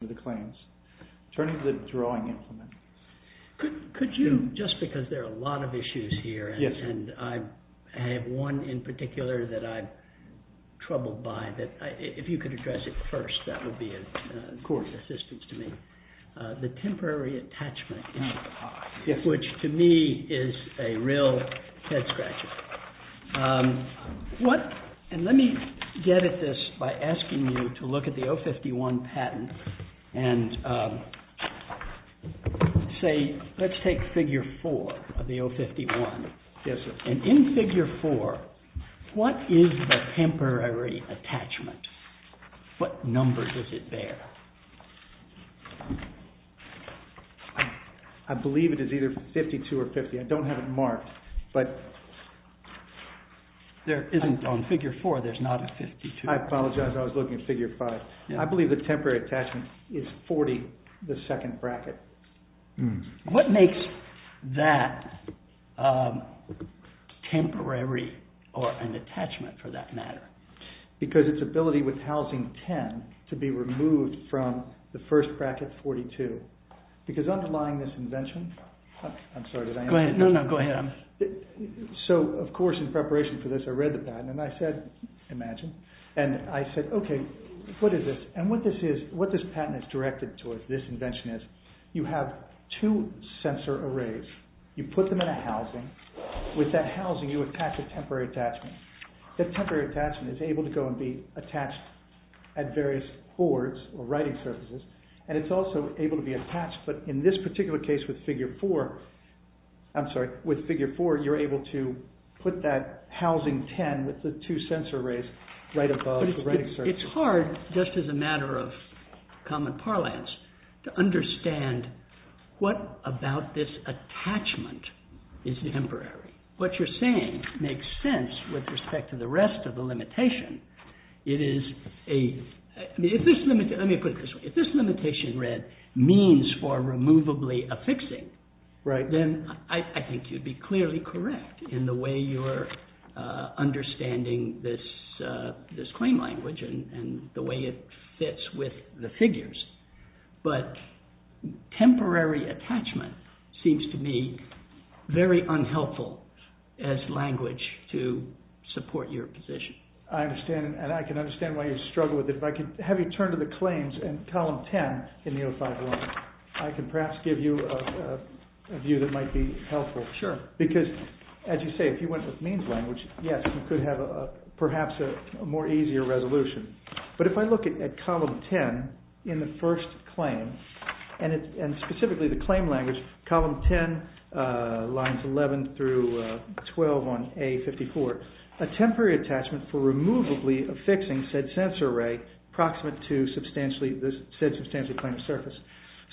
Attorney for the Drawing Implementation and say, let's take figure 4 of the 051, and in figure 4, what is the temporary attachment? What number is it there? I believe it is either 52 or 50. I don't have it marked, but there isn't on figure 4, there's not a 52. I apologize, I was looking at figure 5. I believe the temporary attachment is 40, the second bracket. What makes that temporary or an attachment for that matter? Because its ability with housing 10 to be removed from the first bracket 42, because underlying this invention... I'm sorry, did I interrupt? No, go ahead. So, of course, in preparation for this, I read the patent, and I said, imagine, and I said, okay, what is this? And what this patent is directed towards, this invention is, you have two sensor arrays, you put them in a housing, with that housing, you attach a temporary attachment. The temporary attachment is able to go and be attached at various boards or writing surfaces, and it's also able to be attached, but in this particular case with figure 4, I'm sorry, with figure 4, you're able to put that housing 10 with the two sensor arrays right above the writing surface. It's hard, just as a matter of common parlance, to understand what about this attachment is temporary. What you're saying makes sense with respect to the rest of the limitation. It is a... let me put it this way, if this limitation read, means for removably affixing, then I think you'd be clearly correct in the way you're understanding this claim language and the way it fits with the figures, but temporary attachment seems to me very unhelpful as language to support your position. I understand, and I can understand why you struggle with it, but if I could have you turn to the claims in column 10 in the 051, I can perhaps give you a view that might be helpful. Sure. Because, as you say, if you went with means language, yes, you could have perhaps a more easier resolution, but if I look at column 10 in the first claim, and specifically the claim language, column 10, lines 11 through 12 on A54, a temporary attachment for removably affixing said sensor array.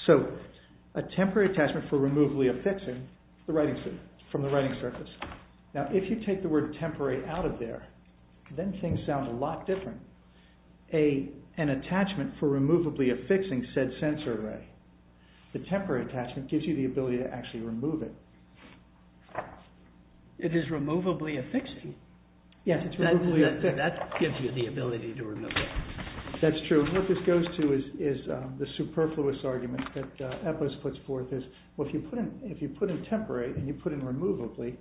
So, a temporary attachment for removably affixing, the writing surface. Now, if you take the word temporary out of there, then things sound a lot different. An attachment for removably affixing said sensor array. The temporary attachment gives you the ability to actually remove it. It is removably affixing. Yes, it's removably affixing. That gives you the ability to remove it. That's true. What this goes to is the superfluous argument that Eppos puts forth is, well, if you put in temporary and you put in removably,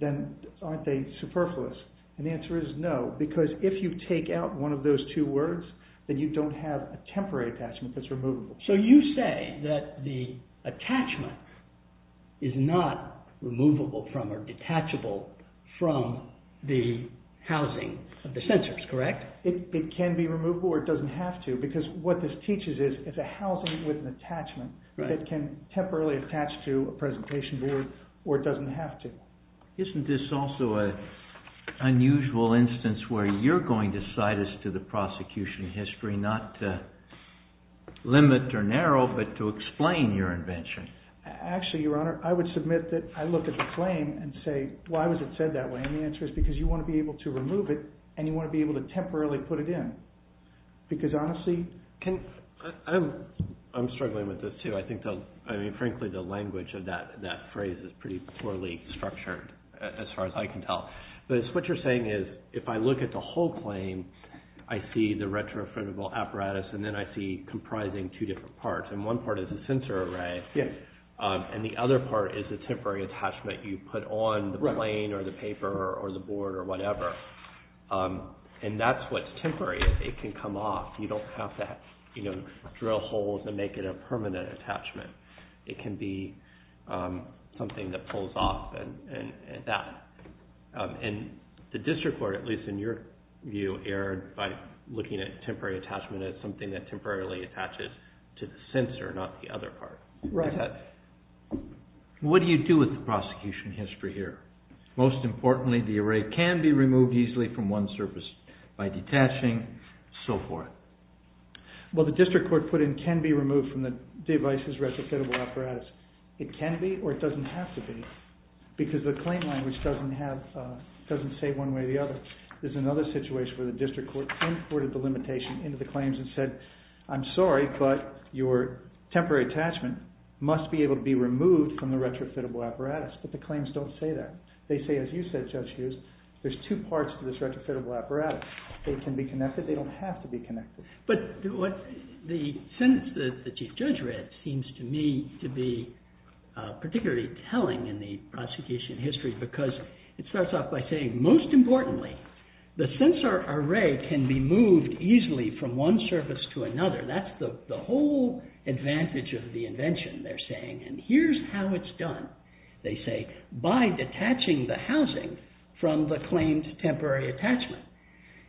then aren't they superfluous? And the answer is no, because if you take out one of those two words, then you don't have a temporary attachment that's removable. So, you say that the attachment is not removable from or detachable from the housing of the sensors, correct? It can be removed. It's a housing with an attachment that can temporarily attach to a presentation board or it doesn't have to. Isn't this also an unusual instance where you're going to cite us to the prosecution history, not to limit or narrow, but to explain your invention? Actually, Your Honor, I would submit that I look at the claim and say, why was it said that way? And the answer is because you want to be able to remove it and you want to be able to temporarily put it in. Because, honestly, can... I'm struggling with this, too. I think, frankly, the language of that phrase is pretty poorly structured, as far as I can tell. But it's what you're saying is, if I look at the whole claim, I see the retrofitable apparatus and then I see comprising two different parts. And one part is a sensor array, and the other part is a temporary attachment you put on the plane or the paper or the board or whatever. And that's what's temporary. It can come off. You don't have to drill holes and make it a permanent attachment. It can be something that pulls off and that. And the district court, at least in your view, erred by looking at temporary attachment as something that temporarily attaches to the sensor, not the other part. Right. What do you do with the prosecution history here? Most importantly, the array can be removed easily from one surface by detaching, so forth. Well, the district court put in can be removed from the device's retrofitable apparatus. It can be or it doesn't have to be. Because the claim language doesn't say one way or the other. There's another situation where the district court imported the limitation into the claims and said, I'm sorry, but your temporary attachment must be able to be removed from the retrofitable apparatus. But the claims don't say that. They say, as you said, Judge Hughes, there's two parts to this retrofitable apparatus. They can be connected. They don't have to be connected. But the sentence that the chief judge read seems to me to be particularly telling in the prosecution history because it starts off by saying, most importantly, the sensor array can be moved easily from one surface to another. That's the whole advantage of the invention, they're saying. And here's how it's done, they say, by detaching the housing from the claims temporary attachment.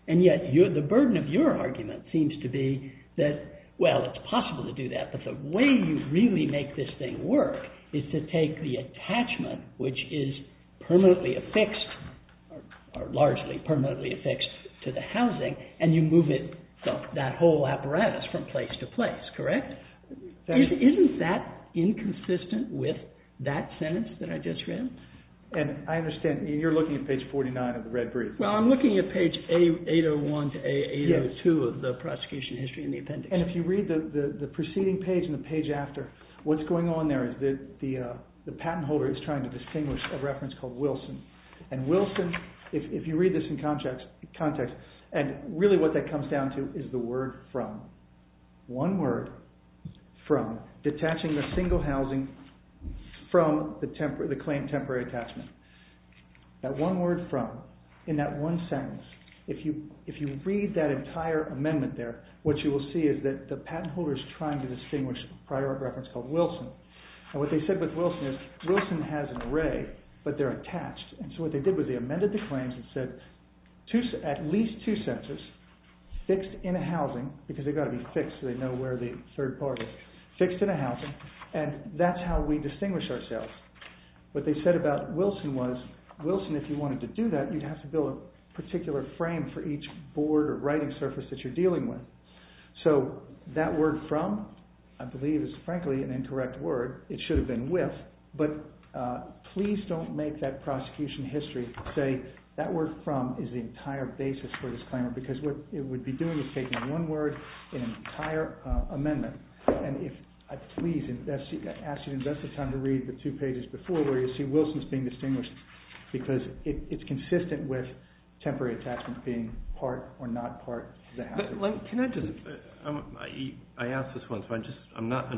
And yet the burden of your argument seems to be that, well, it's possible to do that, but the way you really make this thing work is to take the attachment, which is permanently affixed, or largely permanently affixed to the housing, and you move it, that whole apparatus, from place to place, correct? Isn't that inconsistent with that sentence that I just read? And I understand you're looking at page 49 of the red brief. Well, I'm looking at page 801 to 802 of the prosecution history in the appendix. And if you read the preceding page and the page after, what's going on there is the patent holder is trying to distinguish a reference called Wilson. And Wilson, if you read this in context, and really what that comes down to is the word from. One word, from, detaching the single housing from the claim temporary attachment. That one word, from, in that one sentence, if you read that entire amendment there, what you will see is that the patent holder is trying to distinguish a prior reference called Wilson. And what they said with Wilson is, Wilson has an array, but they're attached. And so what they did was they amended the claims and said, at least two sentences, fixed in a housing, because they've got to be fixed so they know where the third part is, fixed in a housing, and that's how we distinguish ourselves. What they said about Wilson was, Wilson, if you wanted to do that, you'd have to build a particular frame for each board or writing surface that you're dealing with. So that word, from, I believe is frankly an incorrect word. It should have been with, but please don't make that prosecution history say that word, from, is the entire basis for this claim. Because what it would be doing is taking one word, an entire amendment. And if, please invest, I ask you to invest the time to read the two pages before where you see Wilson's being distinguished, because it's consistent with temporary attachment being part or not part of the housing. Can I just, I asked this once, but I'm not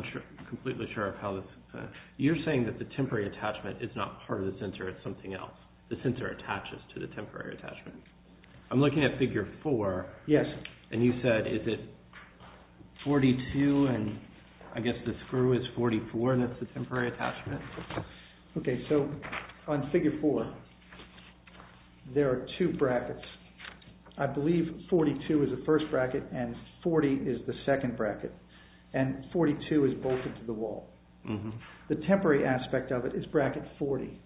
completely sure of how this, you're saying that the temporary attachment is not part of the censor, it's something else. The censor attaches to the temporary attachment. I'm looking at figure four. Yes. And you said, is it 42, and I guess the screw is 44, and that's the temporary attachment. Okay, so on figure four, there are two brackets. I believe 42 is the first bracket, and 40 is the second bracket. And 42 is bolted to the wall. The temporary aspect of it is bracket 40.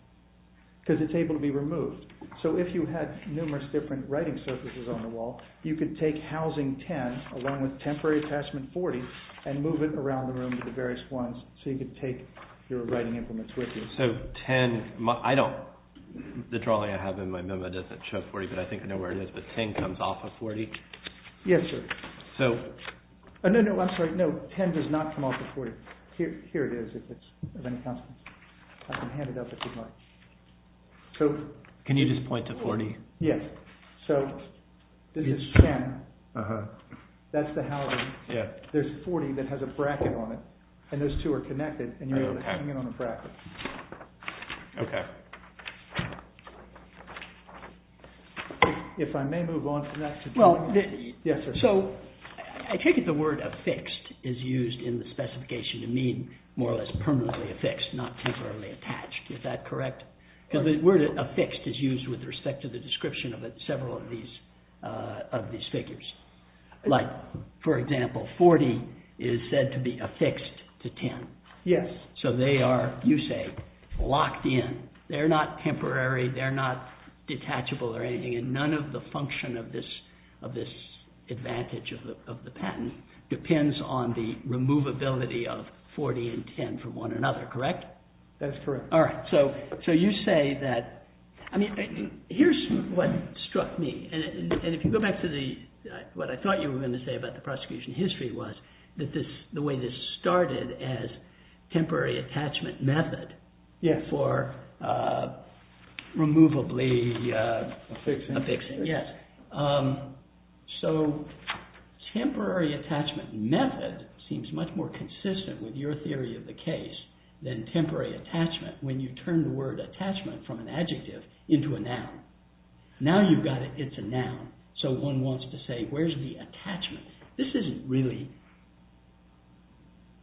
Because it's able to be removed. So if you had numerous different writing surfaces on the wall, you could take housing 10, along with temporary attachment 40, and move it around the room to the various ones. So you could take your writing implements with you. So 10, I don't, the drawing I have in my memo doesn't show 40, but I think I know where it is, but 10 comes off of 40? Yes, sir. So. No, no, I'm sorry, no, 10 does not come off of 40. Here it is, if it's of any consequence. I can hand it up if you'd like. Can you just point to 40? Yes. So this is 10. That's the housing. There's 40 that has a bracket on it. And those two are connected, and you're able to hang it on a bracket. Okay. If I may move on. Yes, sir. So I take it the word affixed is used in the specification to mean more or less permanently affixed, not temporarily attached. Is that correct? Because the word affixed is used with respect to the description of several of these figures. Like, for example, 40 is said to be affixed to 10. Yes. So they are, you say, locked in. They're not temporary, they're not detachable or anything, and none of the function of this advantage of the patent depends on the removability of 40 and 10 from one another, correct? That's correct. All right. So you say that, I mean, here's what struck me. And if you go back to what I thought you were going to say about the prosecution history, it was that the way this started as temporary attachment method for removably affixing. Yes. So temporary attachment method seems much more consistent with your theory of the case than temporary attachment when you turn the word attachment from an adjective into a noun. Now you've got it, it's a noun. So one wants to say, where's the attachment? This isn't really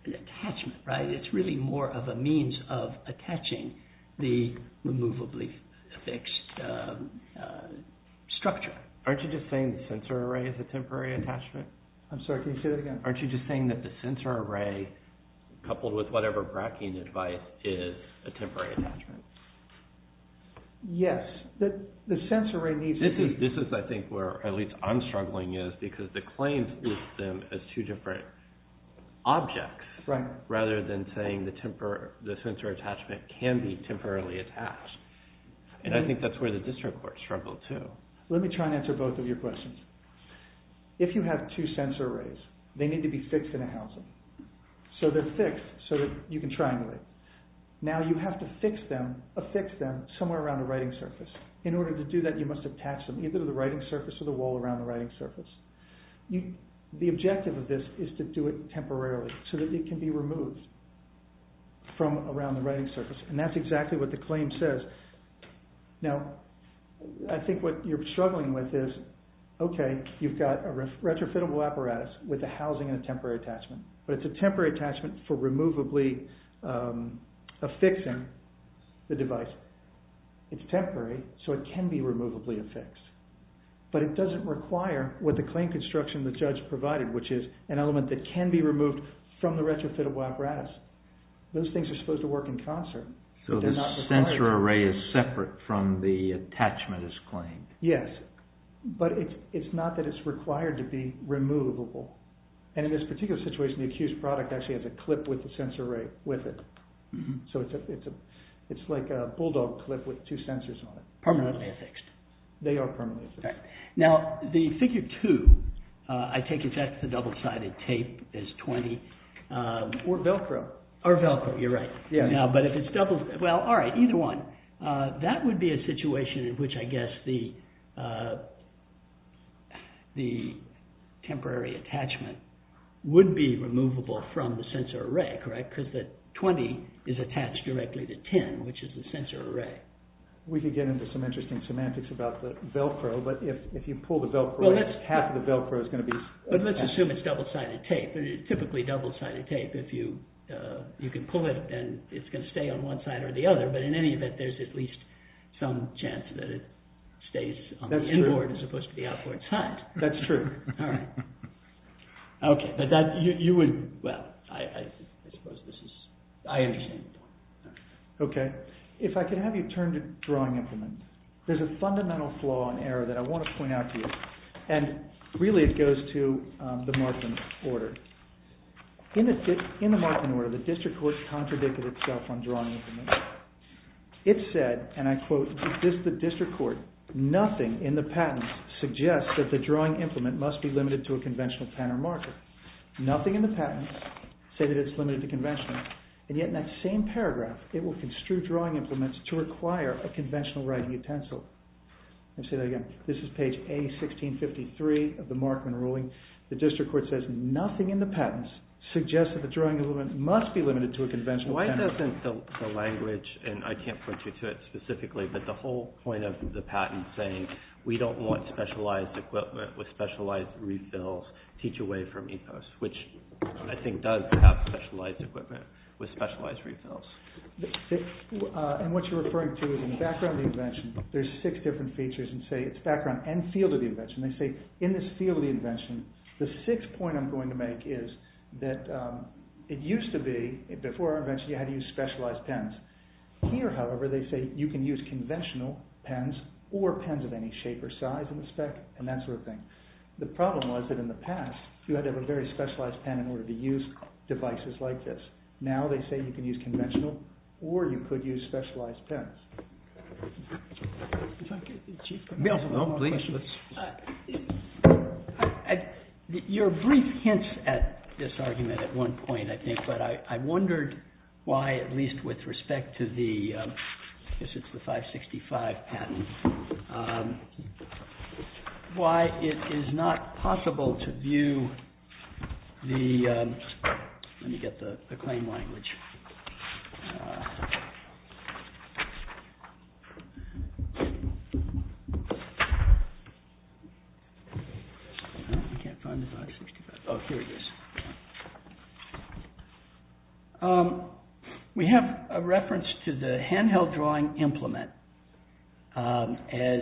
an attachment, right? It's really more of a means of attaching the removably affixed structure. Aren't you just saying the sensor array is a temporary attachment? I'm sorry, can you say that again? Aren't you just saying that the sensor array coupled with whatever bracketing advice is a temporary attachment? Yes. The sensor array needs to be... This is, I think, where at least I'm struggling is because the claims use them as two different objects rather than saying the sensor attachment can be temporarily attached. And I think that's where the district courts struggle too. Let me try and answer both of your questions. If you have two sensor arrays, they need to be fixed in a housing. So they're fixed so that you can triangulate. Now you have to affix them somewhere around the writing surface. In order to do that you must attach them either to the writing surface or the wall around the writing surface. The objective of this is to do it temporarily so that it can be removed from around the writing surface. And that's exactly what the claim says. Now, I think what you're struggling with is, okay, you've got a retrofitable apparatus with a housing and a temporary attachment. But it's a temporary attachment for removably affixing the device. It's temporary, so it can be removably affixed. But it doesn't require what the claim construction the judge provided, which is an element that can be removed from the retrofitable apparatus. Those things are supposed to work in concert. So the sensor array is separate from the attachment as claimed. Yes, but it's not that it's required to be removable. And in this particular situation, the accused product actually has a clip with the sensor array with it. So it's like a bulldog clip with two sensors on it. Permanently affixed. They are permanently affixed. Now, the Figure 2, I take it that the double-sided tape is 20. Or Velcro. Or Velcro, you're right. Well, all right, either one. That would be a situation in which I guess the temporary attachment would be removable from the sensor array, correct? Because the 20 is attached directly to 10, which is the sensor array. We could get into some interesting semantics about the Velcro, but if you pull the Velcro, half of the Velcro is going to be... But let's assume it's double-sided tape. It's typically double-sided tape. If you can pull it, then it's going to stay on one side or the other. But in any event, there's at least some chance that it stays on the inboard as opposed to the outboard side. That's true. OK, but that, you would... Well, I suppose this is... I understand the point. OK, if I could have you turn to drawing implement. There's a fundamental flaw in error that I want to point out to you. And really it goes to the Markman order. In the Markman order, the district court contradicted itself on drawing implement. It said, and I quote, "...the district court, nothing in the patents suggests that the drawing implement must be limited to a conventional pen or marker." Nothing in the patents say that it's limited to conventional. And yet in that same paragraph, it will construe drawing implements to require a conventional writing utensil. Let me say that again. This is page A1653 of the Markman ruling. The district court says, "...nothing in the patents suggests that the drawing implement must be limited to a conventional pen or marker." Why doesn't the language, and I can't point you to it specifically, but the whole point of the patent saying, we don't want specialized equipment with specialized refills teach away from ethos, which I think does have specialized equipment with specialized refills. And what you're referring to is in the background of the invention, there's six different features and say it's background and field of the invention. They say in this field of the invention, the sixth point I'm going to make is that it used to be, before our invention, you had to use specialized pens. Here, however, they say you can use conventional pens or pens of any shape or size in the spec and that sort of thing. The problem was that in the past, you had to have a very specialized pen in order to use devices like this. Now they say you can use conventional or you could use specialized pens. Your brief hints at this argument at one point, I think, but I wondered why, at least with respect to the, I guess it's the 565 patent, why it is not possible to view the, let me get the claim language. I can't find the 565. Oh, here it is. We have a reference to the handheld drawing implement as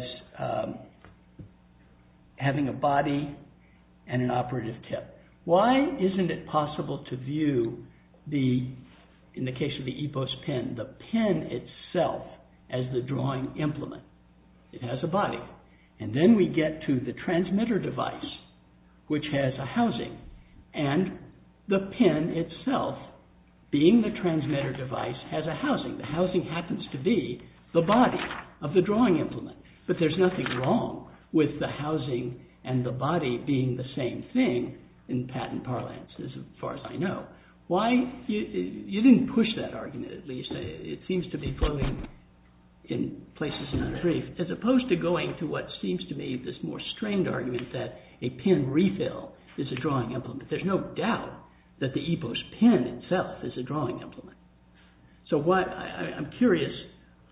having a body and an operative tip. Why isn't it possible to view the, in the case of the EPOS pen, the pen itself as the drawing implement? It has a body. And then we get to the transmitter device, which has a housing. And the pen itself, being the transmitter device, has a housing. The housing happens to be the body of the drawing implement. But there's nothing wrong with the housing and the body being the same thing. In patent parlance, as far as I know. Why, you didn't push that argument, at least. It seems to be floating in places in our brief. As opposed to going to what seems to be this more strained argument that a pen refill is a drawing implement. There's no doubt that the EPOS pen itself is a drawing implement. So I'm curious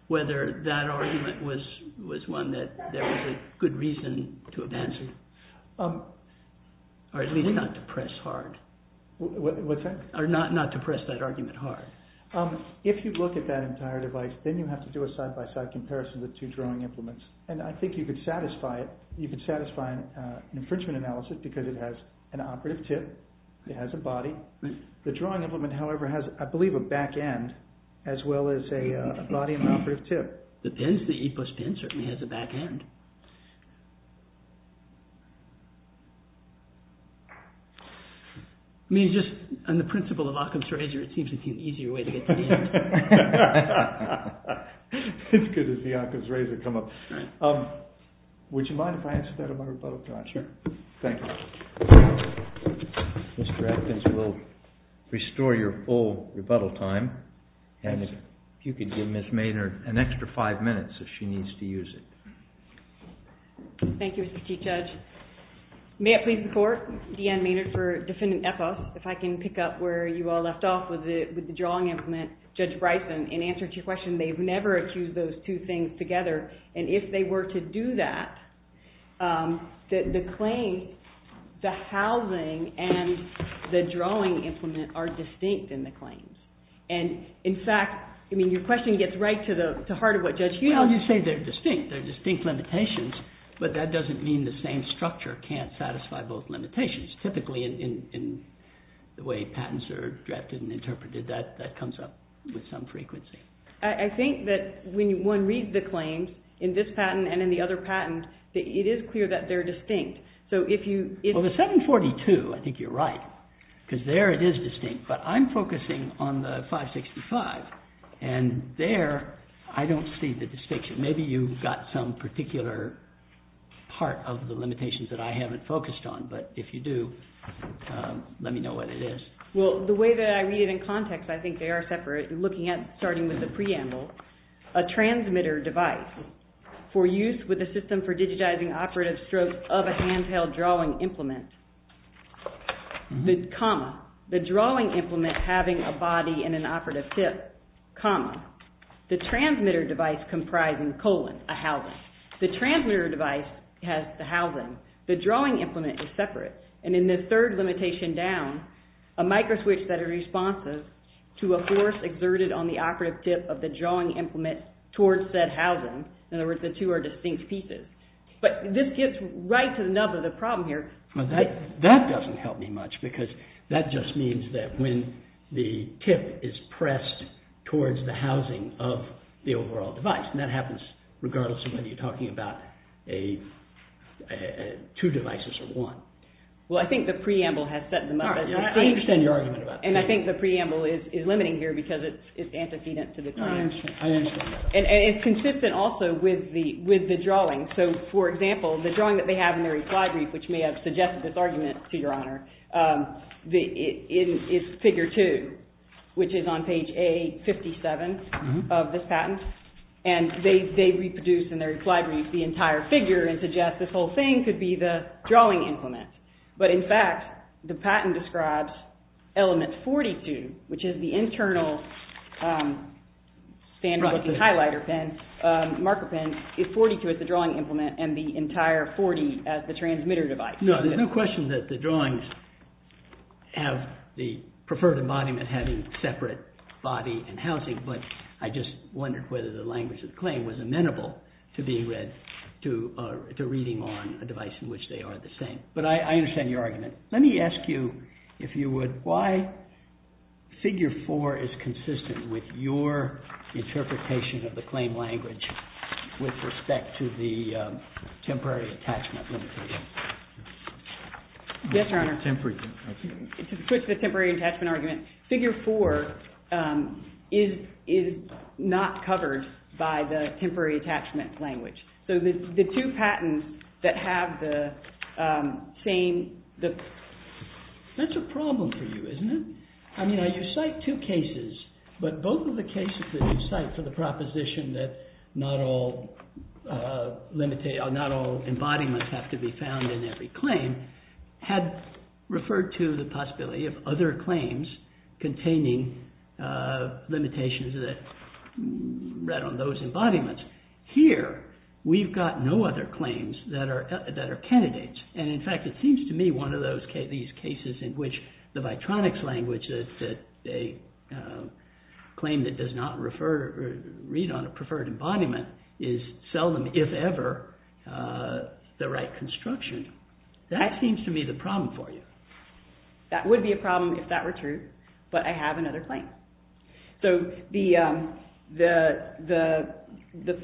whether that argument was one that there was a good reason to advance it. Or at least not to press hard. What's that? Or not to press that argument hard. If you look at that entire device, then you have to do a side-by-side comparison of the two drawing implements. And I think you could satisfy an infringement analysis because it has an operative tip, it has a body. The drawing implement, however, has, I believe, a back-end as well as a body and an operative tip. The pen, the EPOS pen, certainly has a back-end. I mean, just on the principle of Occam's Razor, it seems to be an easier way to get to the end. It's good to see Occam's Razor come up. Would you mind if I answer that in my rebuttal time? Sure. Thank you. Mr. Atkins will restore your full rebuttal time. And if you could give Ms. Maynard an extra five minutes if she needs to use it. Thank you, Mr. Chief Judge. May I please report? Deanne Maynard for Defendant EPOS. If I can pick up where you all left off with the drawing implement. Judge Bryson, in answer to your question, they've never accused those two things together. And if they were to do that, the claim, the housing, and the drawing implement are distinct in the claims. And, in fact, I mean, your question gets right to the heart of what Judge Hughes said. They say they're distinct, they're distinct limitations, but that doesn't mean the same structure can't satisfy both limitations. Typically, in the way patents are drafted and interpreted, that comes up with some frequency. I think that when one reads the claims, in this patent and in the other patent, it is clear that they're distinct. Well, the 742, I think you're right. Because there it is distinct. But I'm focusing on the 565. And there, I don't see the distinction. Maybe you've got some particular part of the limitations that I haven't focused on. But if you do, let me know what it is. Well, the way that I read it in context, I think they are separate. Looking at, starting with the preamble, a transmitter device for use with a system for digitizing operative strokes of a handheld drawing implement. The drawing implement having a body and an operative hip. The transmitter device comprising the colon, a housing. The transmitter device has the housing. The drawing implement is separate. And in the third limitation down, a microswitch that is responsive to a force exerted on the operative tip of the drawing implement towards said housing. In other words, the two are distinct pieces. But this gets right to the nub of the problem here. That doesn't help me much. Because that just means that when the tip is pressed towards the housing of the overall device, and that happens regardless of whether you're talking about two devices or one. Well, I think the preamble has set them up. I understand your argument about that. And I think the preamble is limiting here because it's antecedent to the claim. I understand. And it's consistent also with the drawing. So, for example, the drawing that they have in their reply brief, which may have suggested this argument to Your Honor, is figure two, which is on page A57 of this patent. And they reproduce in their reply brief the entire figure and suggest this whole thing could be the drawing implement. But in fact, the patent describes element 42, which is the internal standard with the highlighter pen, marker pen. 42 is the drawing implement and the entire 40 as the transmitter device. No, there's no question that the drawings have the preferred embodiment having separate body and housing. But I just wondered whether the language of the claim was amenable to being read, to reading on a device in which they are the same. But I understand your argument. Let me ask you, if you would, why figure four is consistent with your interpretation of the claim language with respect to the temporary attachment limitation? Yes, Your Honor. To switch the temporary attachment argument, figure four is not covered by the temporary attachment language. So the two patents that have the same... That's a problem for you, isn't it? I mean, you cite two cases, but both of the cases that you cite for the proposition that not all embodiments have to be found in every claim had referred to the possibility of other claims containing limitations that read on those embodiments. Here, we've got no other claims that are candidates. And in fact, it seems to me one of these cases in which the Vitronics language, a claim that does not refer, read on a preferred embodiment, is seldom, if ever, the right construction. That seems to me the problem for you. That would be a problem if that were true. But I have another claim. So the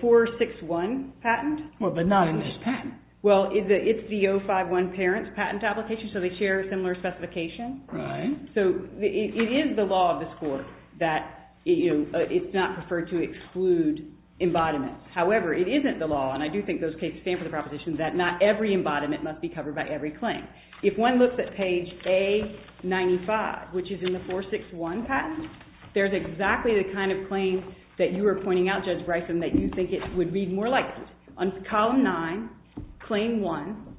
461 patent... But not in this patent. Well, it's the 051 parent patent application, so they share a similar specification. So it is the law of this Court that it's not preferred to exclude embodiments. However, it isn't the law, and I do think those cases stand for the proposition that not every embodiment must be covered by every claim. If one looks at page A95, which is in the 461 patent, there's exactly the kind of claim that you were pointing out, Judge Bryson, that you think it would be more likely. On column 9, claim 1,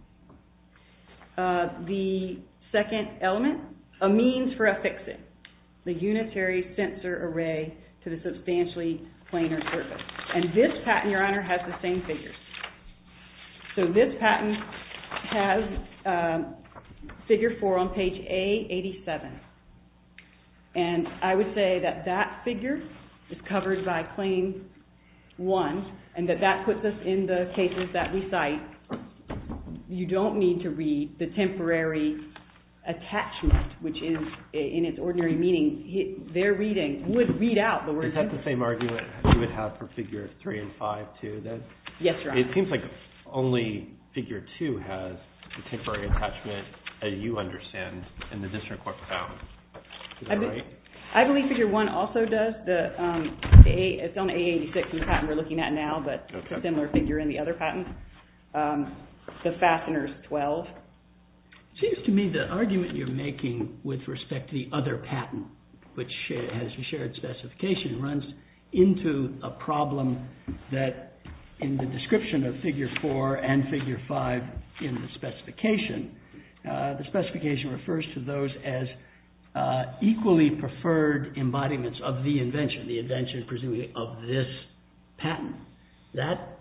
the second element, a means for a fixing, the unitary sensor array to the substantially planar surface. And this patent, Your Honor, has the same figures. So this patent has figure 4 on page A87. And I would say that that figure is covered by claim 1, and that that puts us in the cases that we cite. You don't need to read the temporary attachment, which is in its ordinary meaning. Their reading would read out the words... Is that the same argument you would have for figure 3 and 5, too, then? Yes, Your Honor. It seems like only figure 2 has the temporary attachment, as you understand, in the district court found. Is that right? I believe figure 1 also does. It's on A86 in the patent we're looking at now, but a similar figure in the other patent. The fastener is 12. It seems to me the argument you're making with respect to the other patent, which has a shared specification, runs into a problem that, in the description of figure 4 and figure 5 in the specification, the specification refers to those as equally preferred embodiments of the invention, the invention, presumably, of this patent. That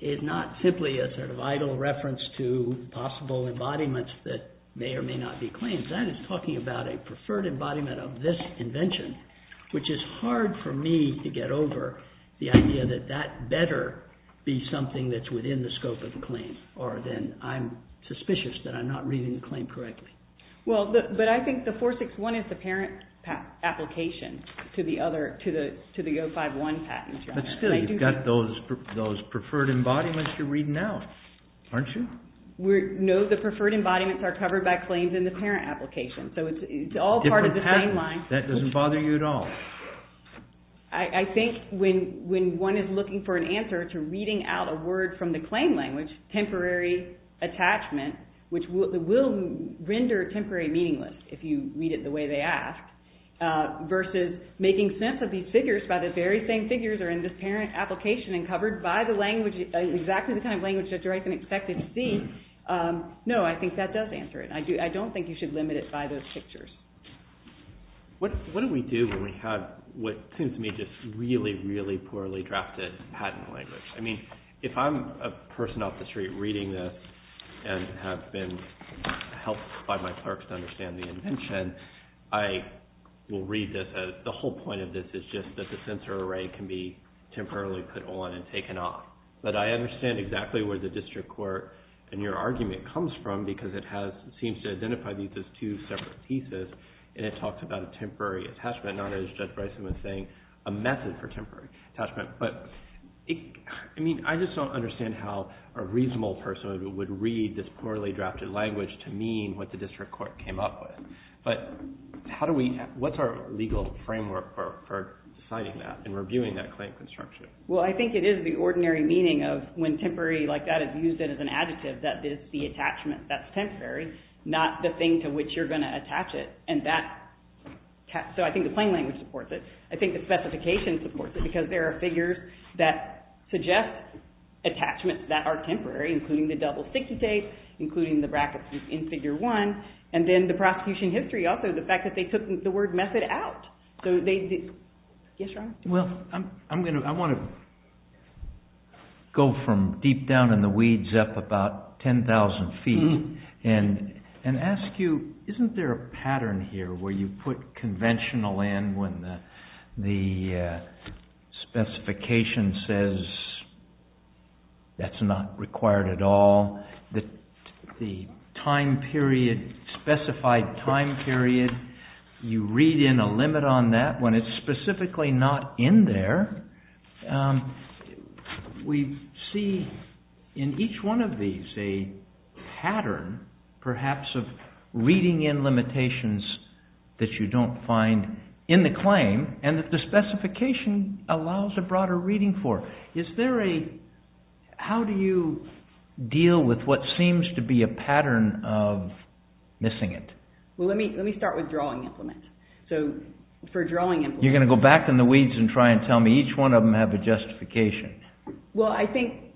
is not simply a sort of idle reference to possible embodiments that may or may not be claims. That is talking about a preferred embodiment of this invention, which is hard for me to get over the idea that that better be something that's within the scope of the claim, or then I'm suspicious that I'm not reading the claim correctly. Well, but I think the 461 is the parent application. To the other, to the 051 patent. But still, you've got those preferred embodiments you're reading out, aren't you? No, the preferred embodiments are covered by claims in the parent application. So it's all part of the same line. That doesn't bother you at all? I think when one is looking for an answer to reading out a word from the claim language, temporary attachment, which will render temporary meaningless if you read it the way they ask, versus making sense of these figures by the very same figures are in this parent application and covered by the language, exactly the kind of language that you're expected to see, no, I think that does answer it. I don't think you should limit it by those pictures. What do we do when we have what seems to me just really, really poorly drafted patent language? I mean, if I'm a person off the street reading this and have been helped by my clerks to understand the invention, then I will read this as the whole point of this is just that the censor array can be temporarily put on and taken off. But I understand exactly where the district court and your argument comes from because it seems to identify these as two separate pieces and it talks about a temporary attachment, not as Judge Bryson was saying, a method for temporary attachment. But I just don't understand how a reasonable person would read this poorly drafted language to mean what the district court came up with. But what's our legal framework for deciding that and reviewing that claim construction? Well, I think it is the ordinary meaning of when temporary like that is used as an adjective, that it's the attachment that's temporary, not the thing to which you're going to attach it. So I think the plain language supports it. I think the specification supports it because there are figures that suggest attachments that are temporary, including the double 60 case, including the brackets in Figure 1. And then the prosecution history, also the fact that they took the word method out. Yes, Ron? Well, I want to go from deep down in the weeds up about 10,000 feet and ask you, isn't there a pattern here where you put conventional in when the specification says that's not required at all? The specified time period, you read in a limit on that when it's specifically not in there. We see in each one of these a pattern, perhaps, of reading in limitations that you don't find in the claim and that the specification allows a broader reading for. How do you deal with what seems to be a pattern of missing it? Well, let me start with drawing implement. You're going to go back in the weeds and try and tell me each one of them have a justification? Well, I think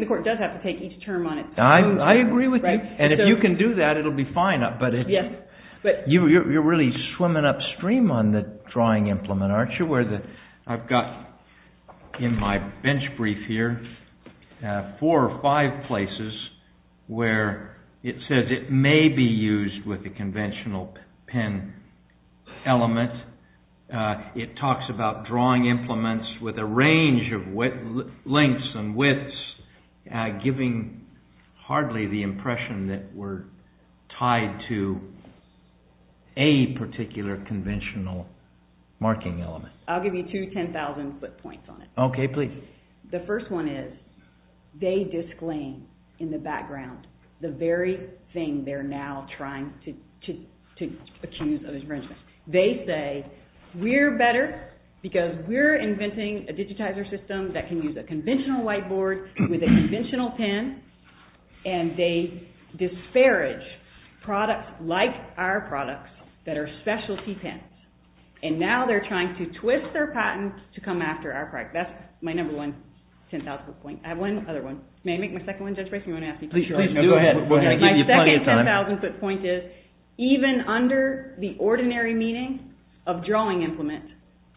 the court does have to take each term on its own. I agree with you. And if you can do that, it'll be fine. But you're really swimming upstream on the drawing implement, aren't you? I've got in my bench brief here four or five places where it says it may be used with a conventional pen element. It talks about drawing implements with a range of lengths and widths giving hardly the impression that we're tied to a particular conventional marking element. I'll give you two 10,000 foot points on it. The first one is they disclaim in the background the very thing they're now trying to accuse of infringement. They say, we're better because we're inventing a digitizer system that can use a conventional whiteboard with a conventional pen and they disparage products like our products that are specialty pens. And now they're trying to twist their patents to come after our product. That's my number one 10,000 foot point. May I make my second one, Judge Bracey? My second 10,000 foot point is even under the ordinary meaning of drawing implement,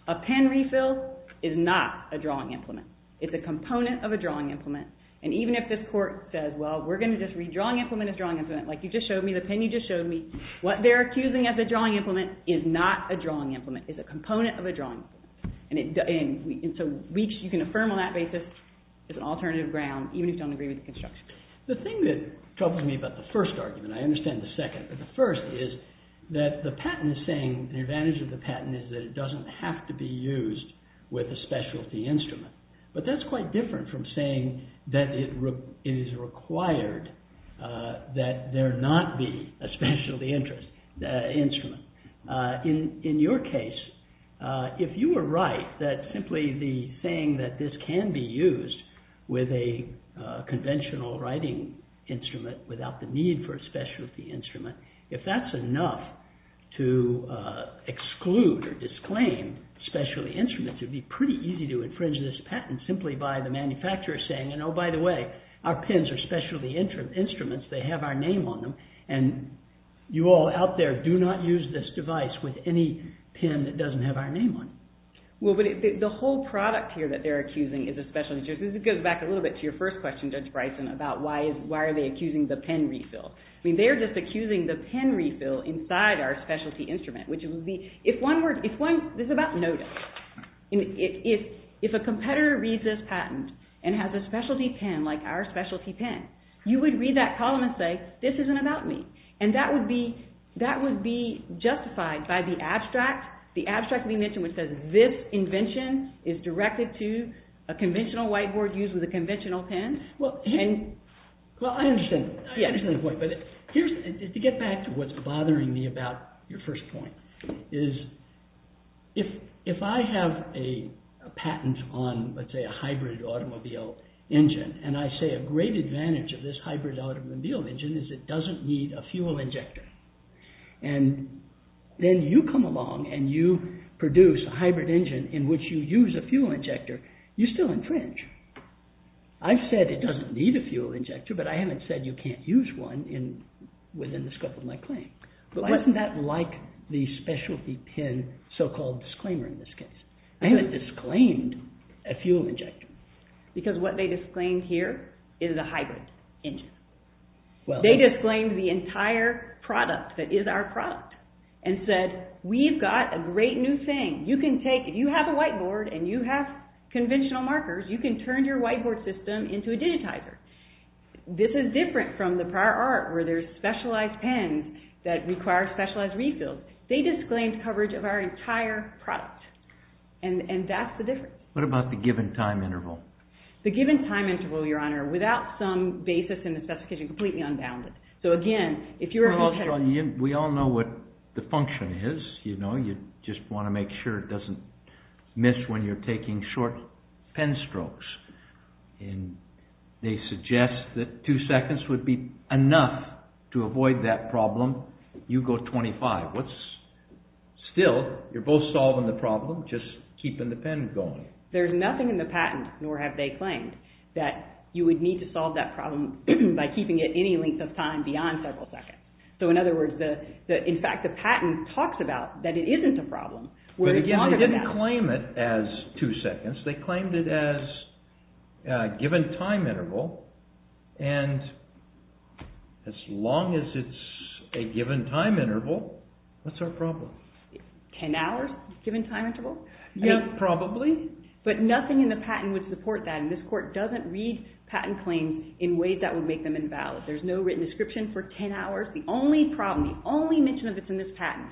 a pen refill is not a drawing implement. It's a component of a drawing implement. And even if this court says, we're going to just read drawing implement as drawing implement, like you just showed me, the pen you just showed me, what they're accusing as a drawing implement is not a drawing implement. It's a component of a drawing implement. And so you can affirm on that basis it's an alternative ground even if you don't agree with the construction. The thing that troubles me about the first argument, I understand the second, but the first is that the patent is saying the advantage of the patent is that it doesn't have to be used with a specialty instrument. But that's quite different from saying that it is required that there not be a specialty instrument. In your case, if you were right that simply the thing that this can be used with a conventional writing instrument without the need for a specialty instrument, if that's enough to exclude or disclaim specialty instruments, it would be pretty easy to infringe this patent simply by the manufacturer saying, oh, by the way, our pens are specialty instruments, they have our name on them, and you all out there do not use this device with any pen that doesn't have our name on it. Well, but the whole product here that they're accusing is a specialty instrument. This goes back a little bit to your first question, Judge Bryson, about why are they accusing the pen refill. I mean, they're just accusing the pen refill inside our specialty instrument, which would be... This is about notice. If a competitor reads this patent and has a specialty pen like our specialty pen, you would read that column and say, this isn't about me. And that would be justified by the abstract. The abstract we mentioned which says this invention is directed to a conventional whiteboard used with a conventional pen. Well, I understand the point, but to get back to what's bothering me about your first point, is if I have a patent on, let's say, a hybrid automobile engine, and I say a great advantage of this hybrid automobile engine is it doesn't need a fuel injector, and then you come along and you produce a hybrid engine in which you use a fuel injector, you still infringe. I've said it doesn't need a fuel injector, but I haven't said you can't use one within the scope of my claim. But why isn't that like the specialty pen so-called disclaimer in this case? I haven't disclaimed a fuel injector. Because what they disclaimed here is a hybrid engine. They disclaimed the entire product that is our product and said we've got a great new thing. You can take, if you have a whiteboard and you have conventional markers, you can turn your whiteboard system into a digitizer. This is different from the prior art where there's specialized pens that require specialized refills. They disclaimed coverage of our entire product. And that's the difference. What about the given time interval? The given time interval, Your Honor, without some basis in the specification, completely unbounded. We all know what the function is. You just want to make sure it doesn't miss when you're taking short pen strokes. They suggest that two seconds would be enough to avoid that problem. You go 25. Still, you're both solving the problem, just keeping the pen going. There's nothing in the patent, nor have they claimed, that you would need to solve that problem by keeping it any length of time beyond several seconds. In fact, the patent talks about that it isn't a problem. They didn't claim it as two seconds. They claimed it as a given time interval. And as long as it's a given time interval, what's our problem? Ten hours, given time interval? Yes, probably. But nothing in the patent would support that. And this Court doesn't read patent claims in ways that would make them invalid. There's no written description for ten hours. The only problem, the only mention of it in this patent,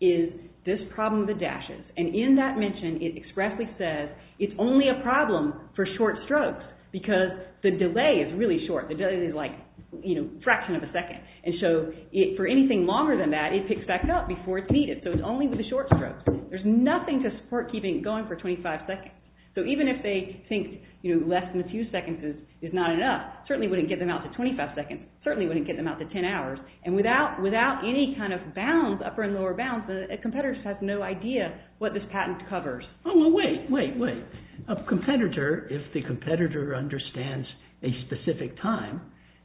is this problem of the dashes. And in that mention, it expressly says it's only a problem for short strokes. Because the delay is really short. The delay is like a fraction of a second. And so, for anything longer than that, it picks back up before it's needed. So it's only with the short strokes. There's nothing to support keeping it going for 25 seconds. So even if they think less than a few seconds is not enough, it certainly wouldn't get them out to 25 seconds. It certainly wouldn't get them out to ten hours. And without any kind of bounds, upper and lower bounds, a competitor has no idea what this patent covers. Oh, well, wait, wait, wait. A competitor, if the competitor understands a specific time,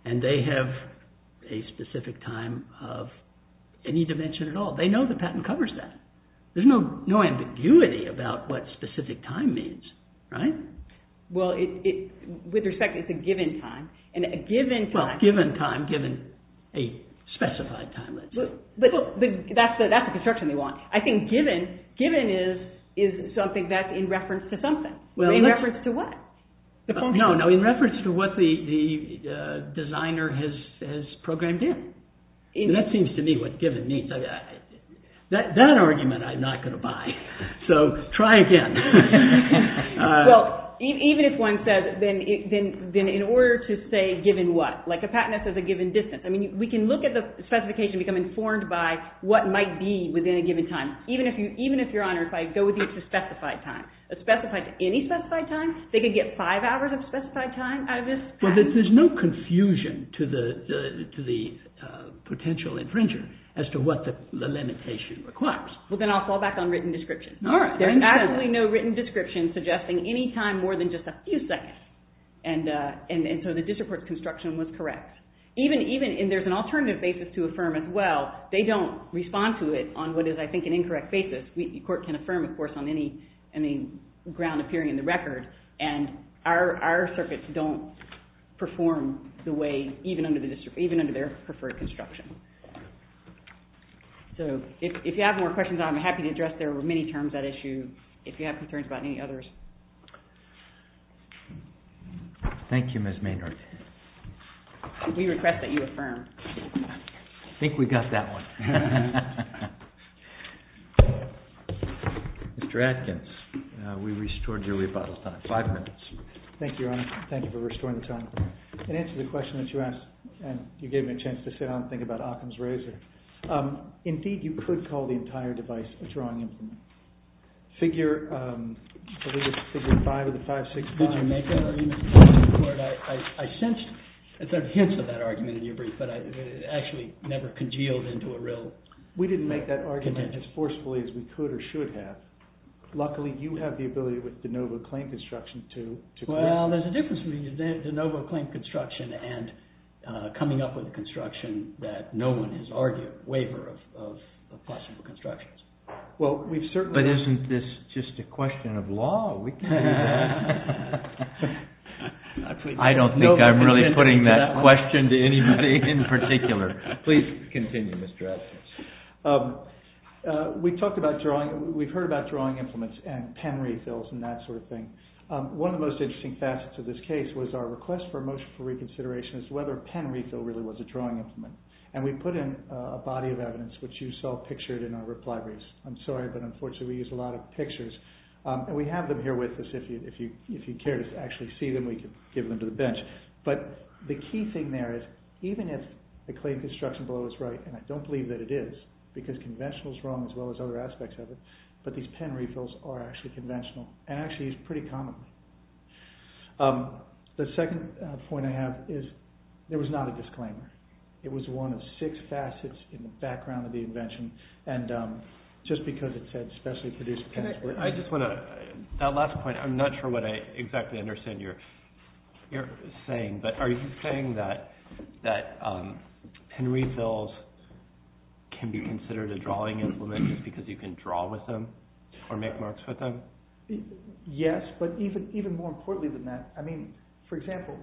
and they have a specific time of any dimension at all, they know the patent covers that. There's no ambiguity about what specific time means. Right? Well, with respect, it's a given time. And a given time... Specified time, let's say. That's the construction they want. I think given is something that's in reference to something. In reference to what? No, in reference to what the designer has programmed in. That seems to me what given means. That argument I'm not going to buy. So try again. Well, even if one says, then in order to say given what? Like a patent that says a given distance. I mean, we can look at the specification and become informed by what might be within a given time. Even if, Your Honor, if I go with you to specified time, specified to any specified time, they could get five hours of specified time out of this patent? Well, there's no confusion to the potential infringer as to what the limitation requires. Well, then I'll fall back on written description. All right. There's absolutely no written description suggesting any time more than just a few seconds. And so the district court's construction was correct. And there's an alternative basis to affirm as well. They don't respond to it on what is, I think, an incorrect basis. The court can affirm, of course, on any ground appearing in the record. And our circuits don't perform the way, even under their preferred construction. So if you have more questions, I'm happy to address their many terms of that issue if you have concerns about any others. Thank you, Ms. Maynard. We request that you affirm. I think we got that one. Mr. Adkins. We restored your rebuttal time. Five minutes. Thank you, Your Honor. Thank you for restoring the time. In answer to the question that you asked, and you gave me a chance to sit down and think about Occam's razor, indeed, you could call the entire device a drawing instrument. Figure 5 of the 565... Did you make that argument? I sensed hints of that argument in your brief, but it actually never congealed into a real... We didn't make that argument as forcefully as we could or should have. Luckily, you have the ability with de novo claim construction to... Well, there's a difference between de novo claim construction and coming up with a larger waiver of possible constructions. But isn't this just a question of law? I don't think I'm really putting that question to anybody in particular. Please continue, Mr. Adkins. We've heard about drawing implements and pen refills and that sort of thing. One of the most interesting facets of this case was our request for a motion for reconsideration as to whether a pen refill really was a drawing implement. And we put in a body of evidence which you saw pictured in our reply briefs. I'm sorry, but unfortunately we use a lot of pictures. And we have them here with us if you care to actually see them, we can give them to the bench. But the key thing there is even if the claim construction below is right, and I don't believe that it is, because conventional is wrong as well as other aspects of it, but these pen refills are actually conventional and actually used pretty commonly. The second point I have is there was not a disclaimer. It was one of six facets in the background of the invention. And just because it said specially produced pens were... I just want to... That last point, I'm not sure what I exactly understand you're saying, but are you saying that pen refills can be considered a drawing implement just because you can draw with them or make marks with them? Yes, but even more importantly than that, I mean, for example,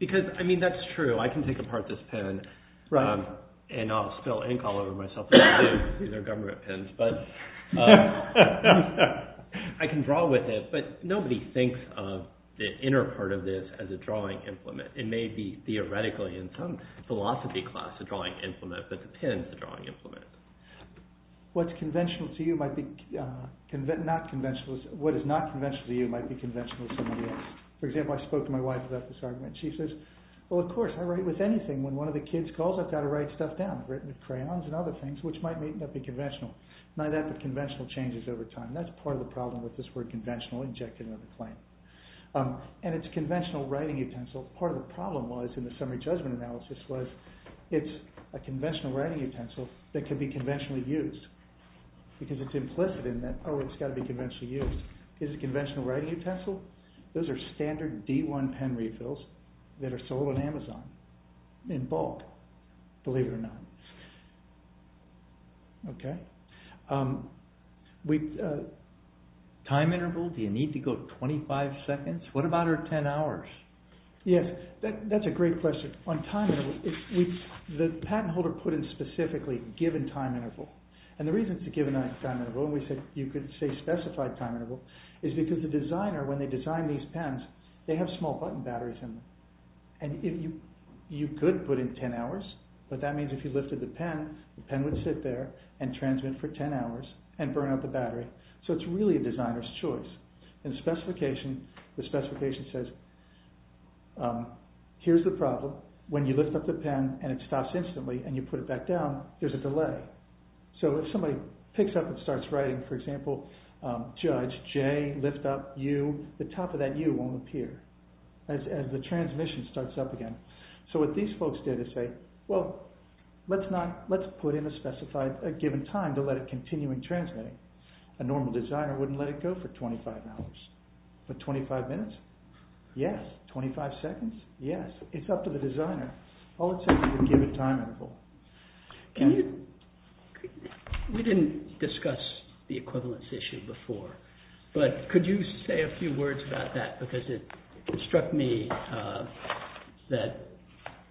because, I mean, that's true. I can take apart this pen and I'll spill ink all over myself. These are government pens. I can draw with it, but nobody thinks of the inner part of this as a drawing implement. It may be theoretically in some philosophy class a drawing implement, but the pen is a drawing implement. What's conventional to you might be... What is not conventional to you might be conventional to somebody else. For example, I spoke to my wife about this argument. She says, well, of course, I write with anything. When one of the kids calls, I've got to write stuff down. I've written with crayons and other things, which might not be conventional. Not only that, but conventional changes over time. That's part of the problem with this word conventional injected into the claim. And it's a conventional writing utensil. Part of the problem was in the summary judgment analysis was it's a conventional writing utensil that could be conventionally used because it's implicit in that oh, it's got to be conventionally used. Is it a conventional writing utensil? Those are standard D1 pen refills that are sold on Amazon in bulk, believe it or not. Okay? Time interval? Do you need to go 25 seconds? What about our 10 hours? Yes, that's a great question. On time interval, the patent holder put in specifically a given time interval. And the reason it's a given time interval and you could say specified time interval is because the designer, when they design these pens, they have small button batteries in them. And you could put in 10 hours, but that means if you lifted the pen, the pen would sit there and transmit for 10 hours and burn out the battery. So it's really a designer's choice. The specification says here's the problem. When you lift up the pen and it stops instantly and you put it back down, there's a delay. So if somebody picks up and starts writing, for example, Judge, J, lift up, U, the top of that U won't appear as the transmission starts up again. So what these folks did is say, well, let's put in a specified, a given time to let it continue in transmitting. A normal designer wouldn't let it go for 25 hours. But 25 minutes? Yes. 25 seconds? Yes. It's up to the designer. All it says is a given time interval. We didn't discuss the equivalence issue before, but could you say a few words about that, because it struck me that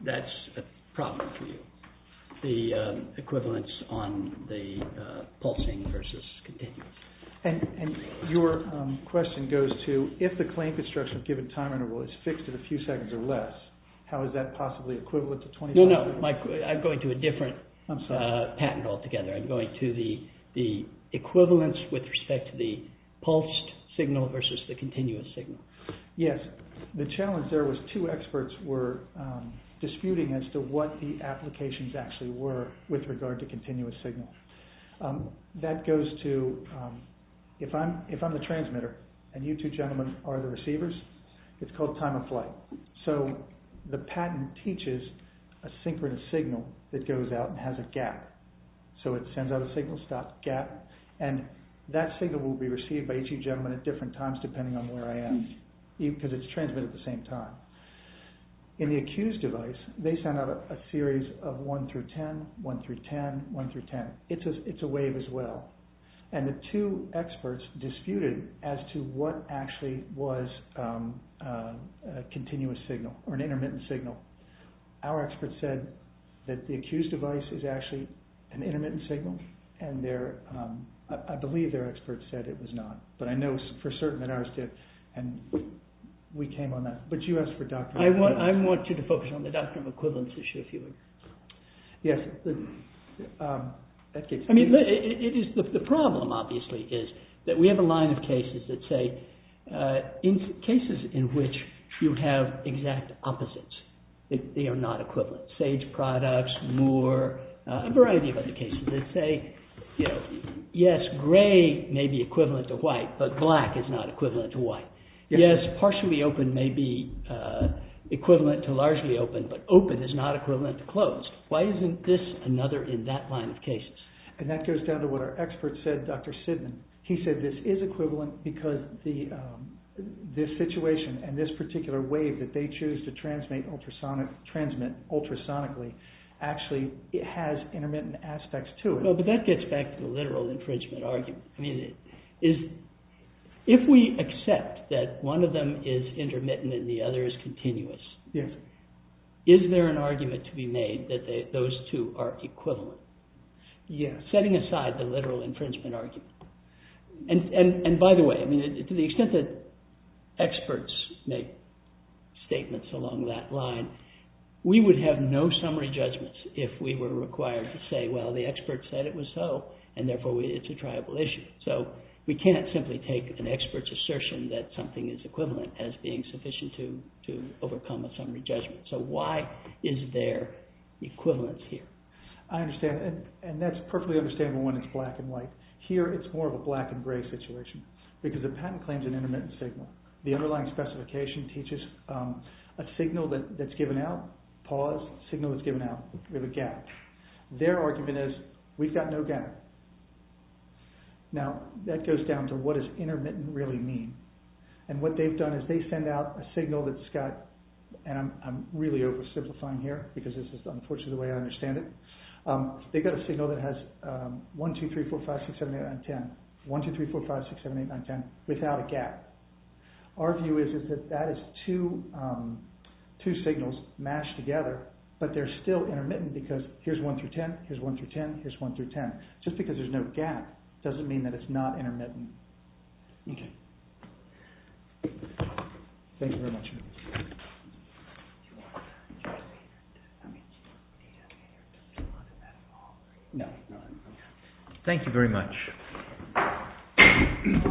that's a problem for you, the equivalence on the pulsing versus continuing. And your question goes to if the claim construction given time interval is fixed at a few seconds or less, how is that possibly equivalent to 25 minutes? No, I'm going to a different patent altogether. I'm going to the equivalence with respect to the pulsed signal versus the continuous signal. Yes, the challenge there was two experts were disputing as to what the applications actually were with regard to continuous signal. That goes to, if I'm the transmitter and you two gentlemen are the receivers, it's called time of flight. So the patent teaches a synchronous signal that goes out and has a gap. So it sends out a signal, stops, gap, and that signal will be received by each of you gentlemen at different times depending on where I am, because it's transmitted at the same time. In the accused device, they sent out a series of 1 through 10, 1 through 10, 1 through 10. It's a wave as well. And the two experts disputed as to what actually was a continuous signal or an intermittent signal. Our experts said that the accused device is actually an intermittent signal and I believe their experts said it was not. But I know for certain that ours did and we came on that. But you asked for doctrinal equivalence. I want you to focus on the doctrinal equivalence issue. Yes. I mean, the problem obviously is that we have a line of cases that say cases in which you have exact opposites. They are not equivalent. Sage products, Moore, a variety of other cases that say yes, grey may be equivalent to white, but black is not equivalent to white. Yes, partially open may be equivalent to largely open, but open is not equivalent to closed. Why isn't this another in that line of cases? And that goes down to what our experts said, Dr. Sidman. He said this is equivalent because this situation and this particular wave that they choose to transmit ultrasonically actually has intermittent aspects to it. But that gets back to the literal infringement argument. I mean, if we accept that one of them is intermittent and the other is continuous, is there an argument to be made that those two are equivalent? Yes. Setting aside the literal infringement argument. And by the way, to the extent that experts make statements along that line, we would have no summary judgments if we were required to say, well, the experts said it was so, and therefore it's a triable issue. So we can't simply take an expert's assertion that something is equivalent as being sufficient to overcome a summary judgment. So why is there equivalence here? I understand. And that's perfectly understandable when it's black and white. Here it's more of a black and gray situation because the patent claims an intermittent signal. The underlying specification teaches a signal that's given out, pause, signal that's given out, we have a gap. Their argument is, we've got no gap. Now, that goes down to what does intermittent really mean? And what they've done is they send out a signal that's got, and I'm really oversimplifying here because this is unfortunately the way I understand it, they've got a signal that has 1, 2, 3, 4, 5, 6, 7, 8, 9, 10, 1, 2, 3, 4, 5, 6, 7, 8, 9, 10, without a gap. Our view is that that is two signals mashed together, but they're still intermittent because here's 1 through 10, here's 1 through 10, here's 1 through 10. Just because there's no gap doesn't mean that it's not intermittent. OK. Thank you very much. Thank you very much.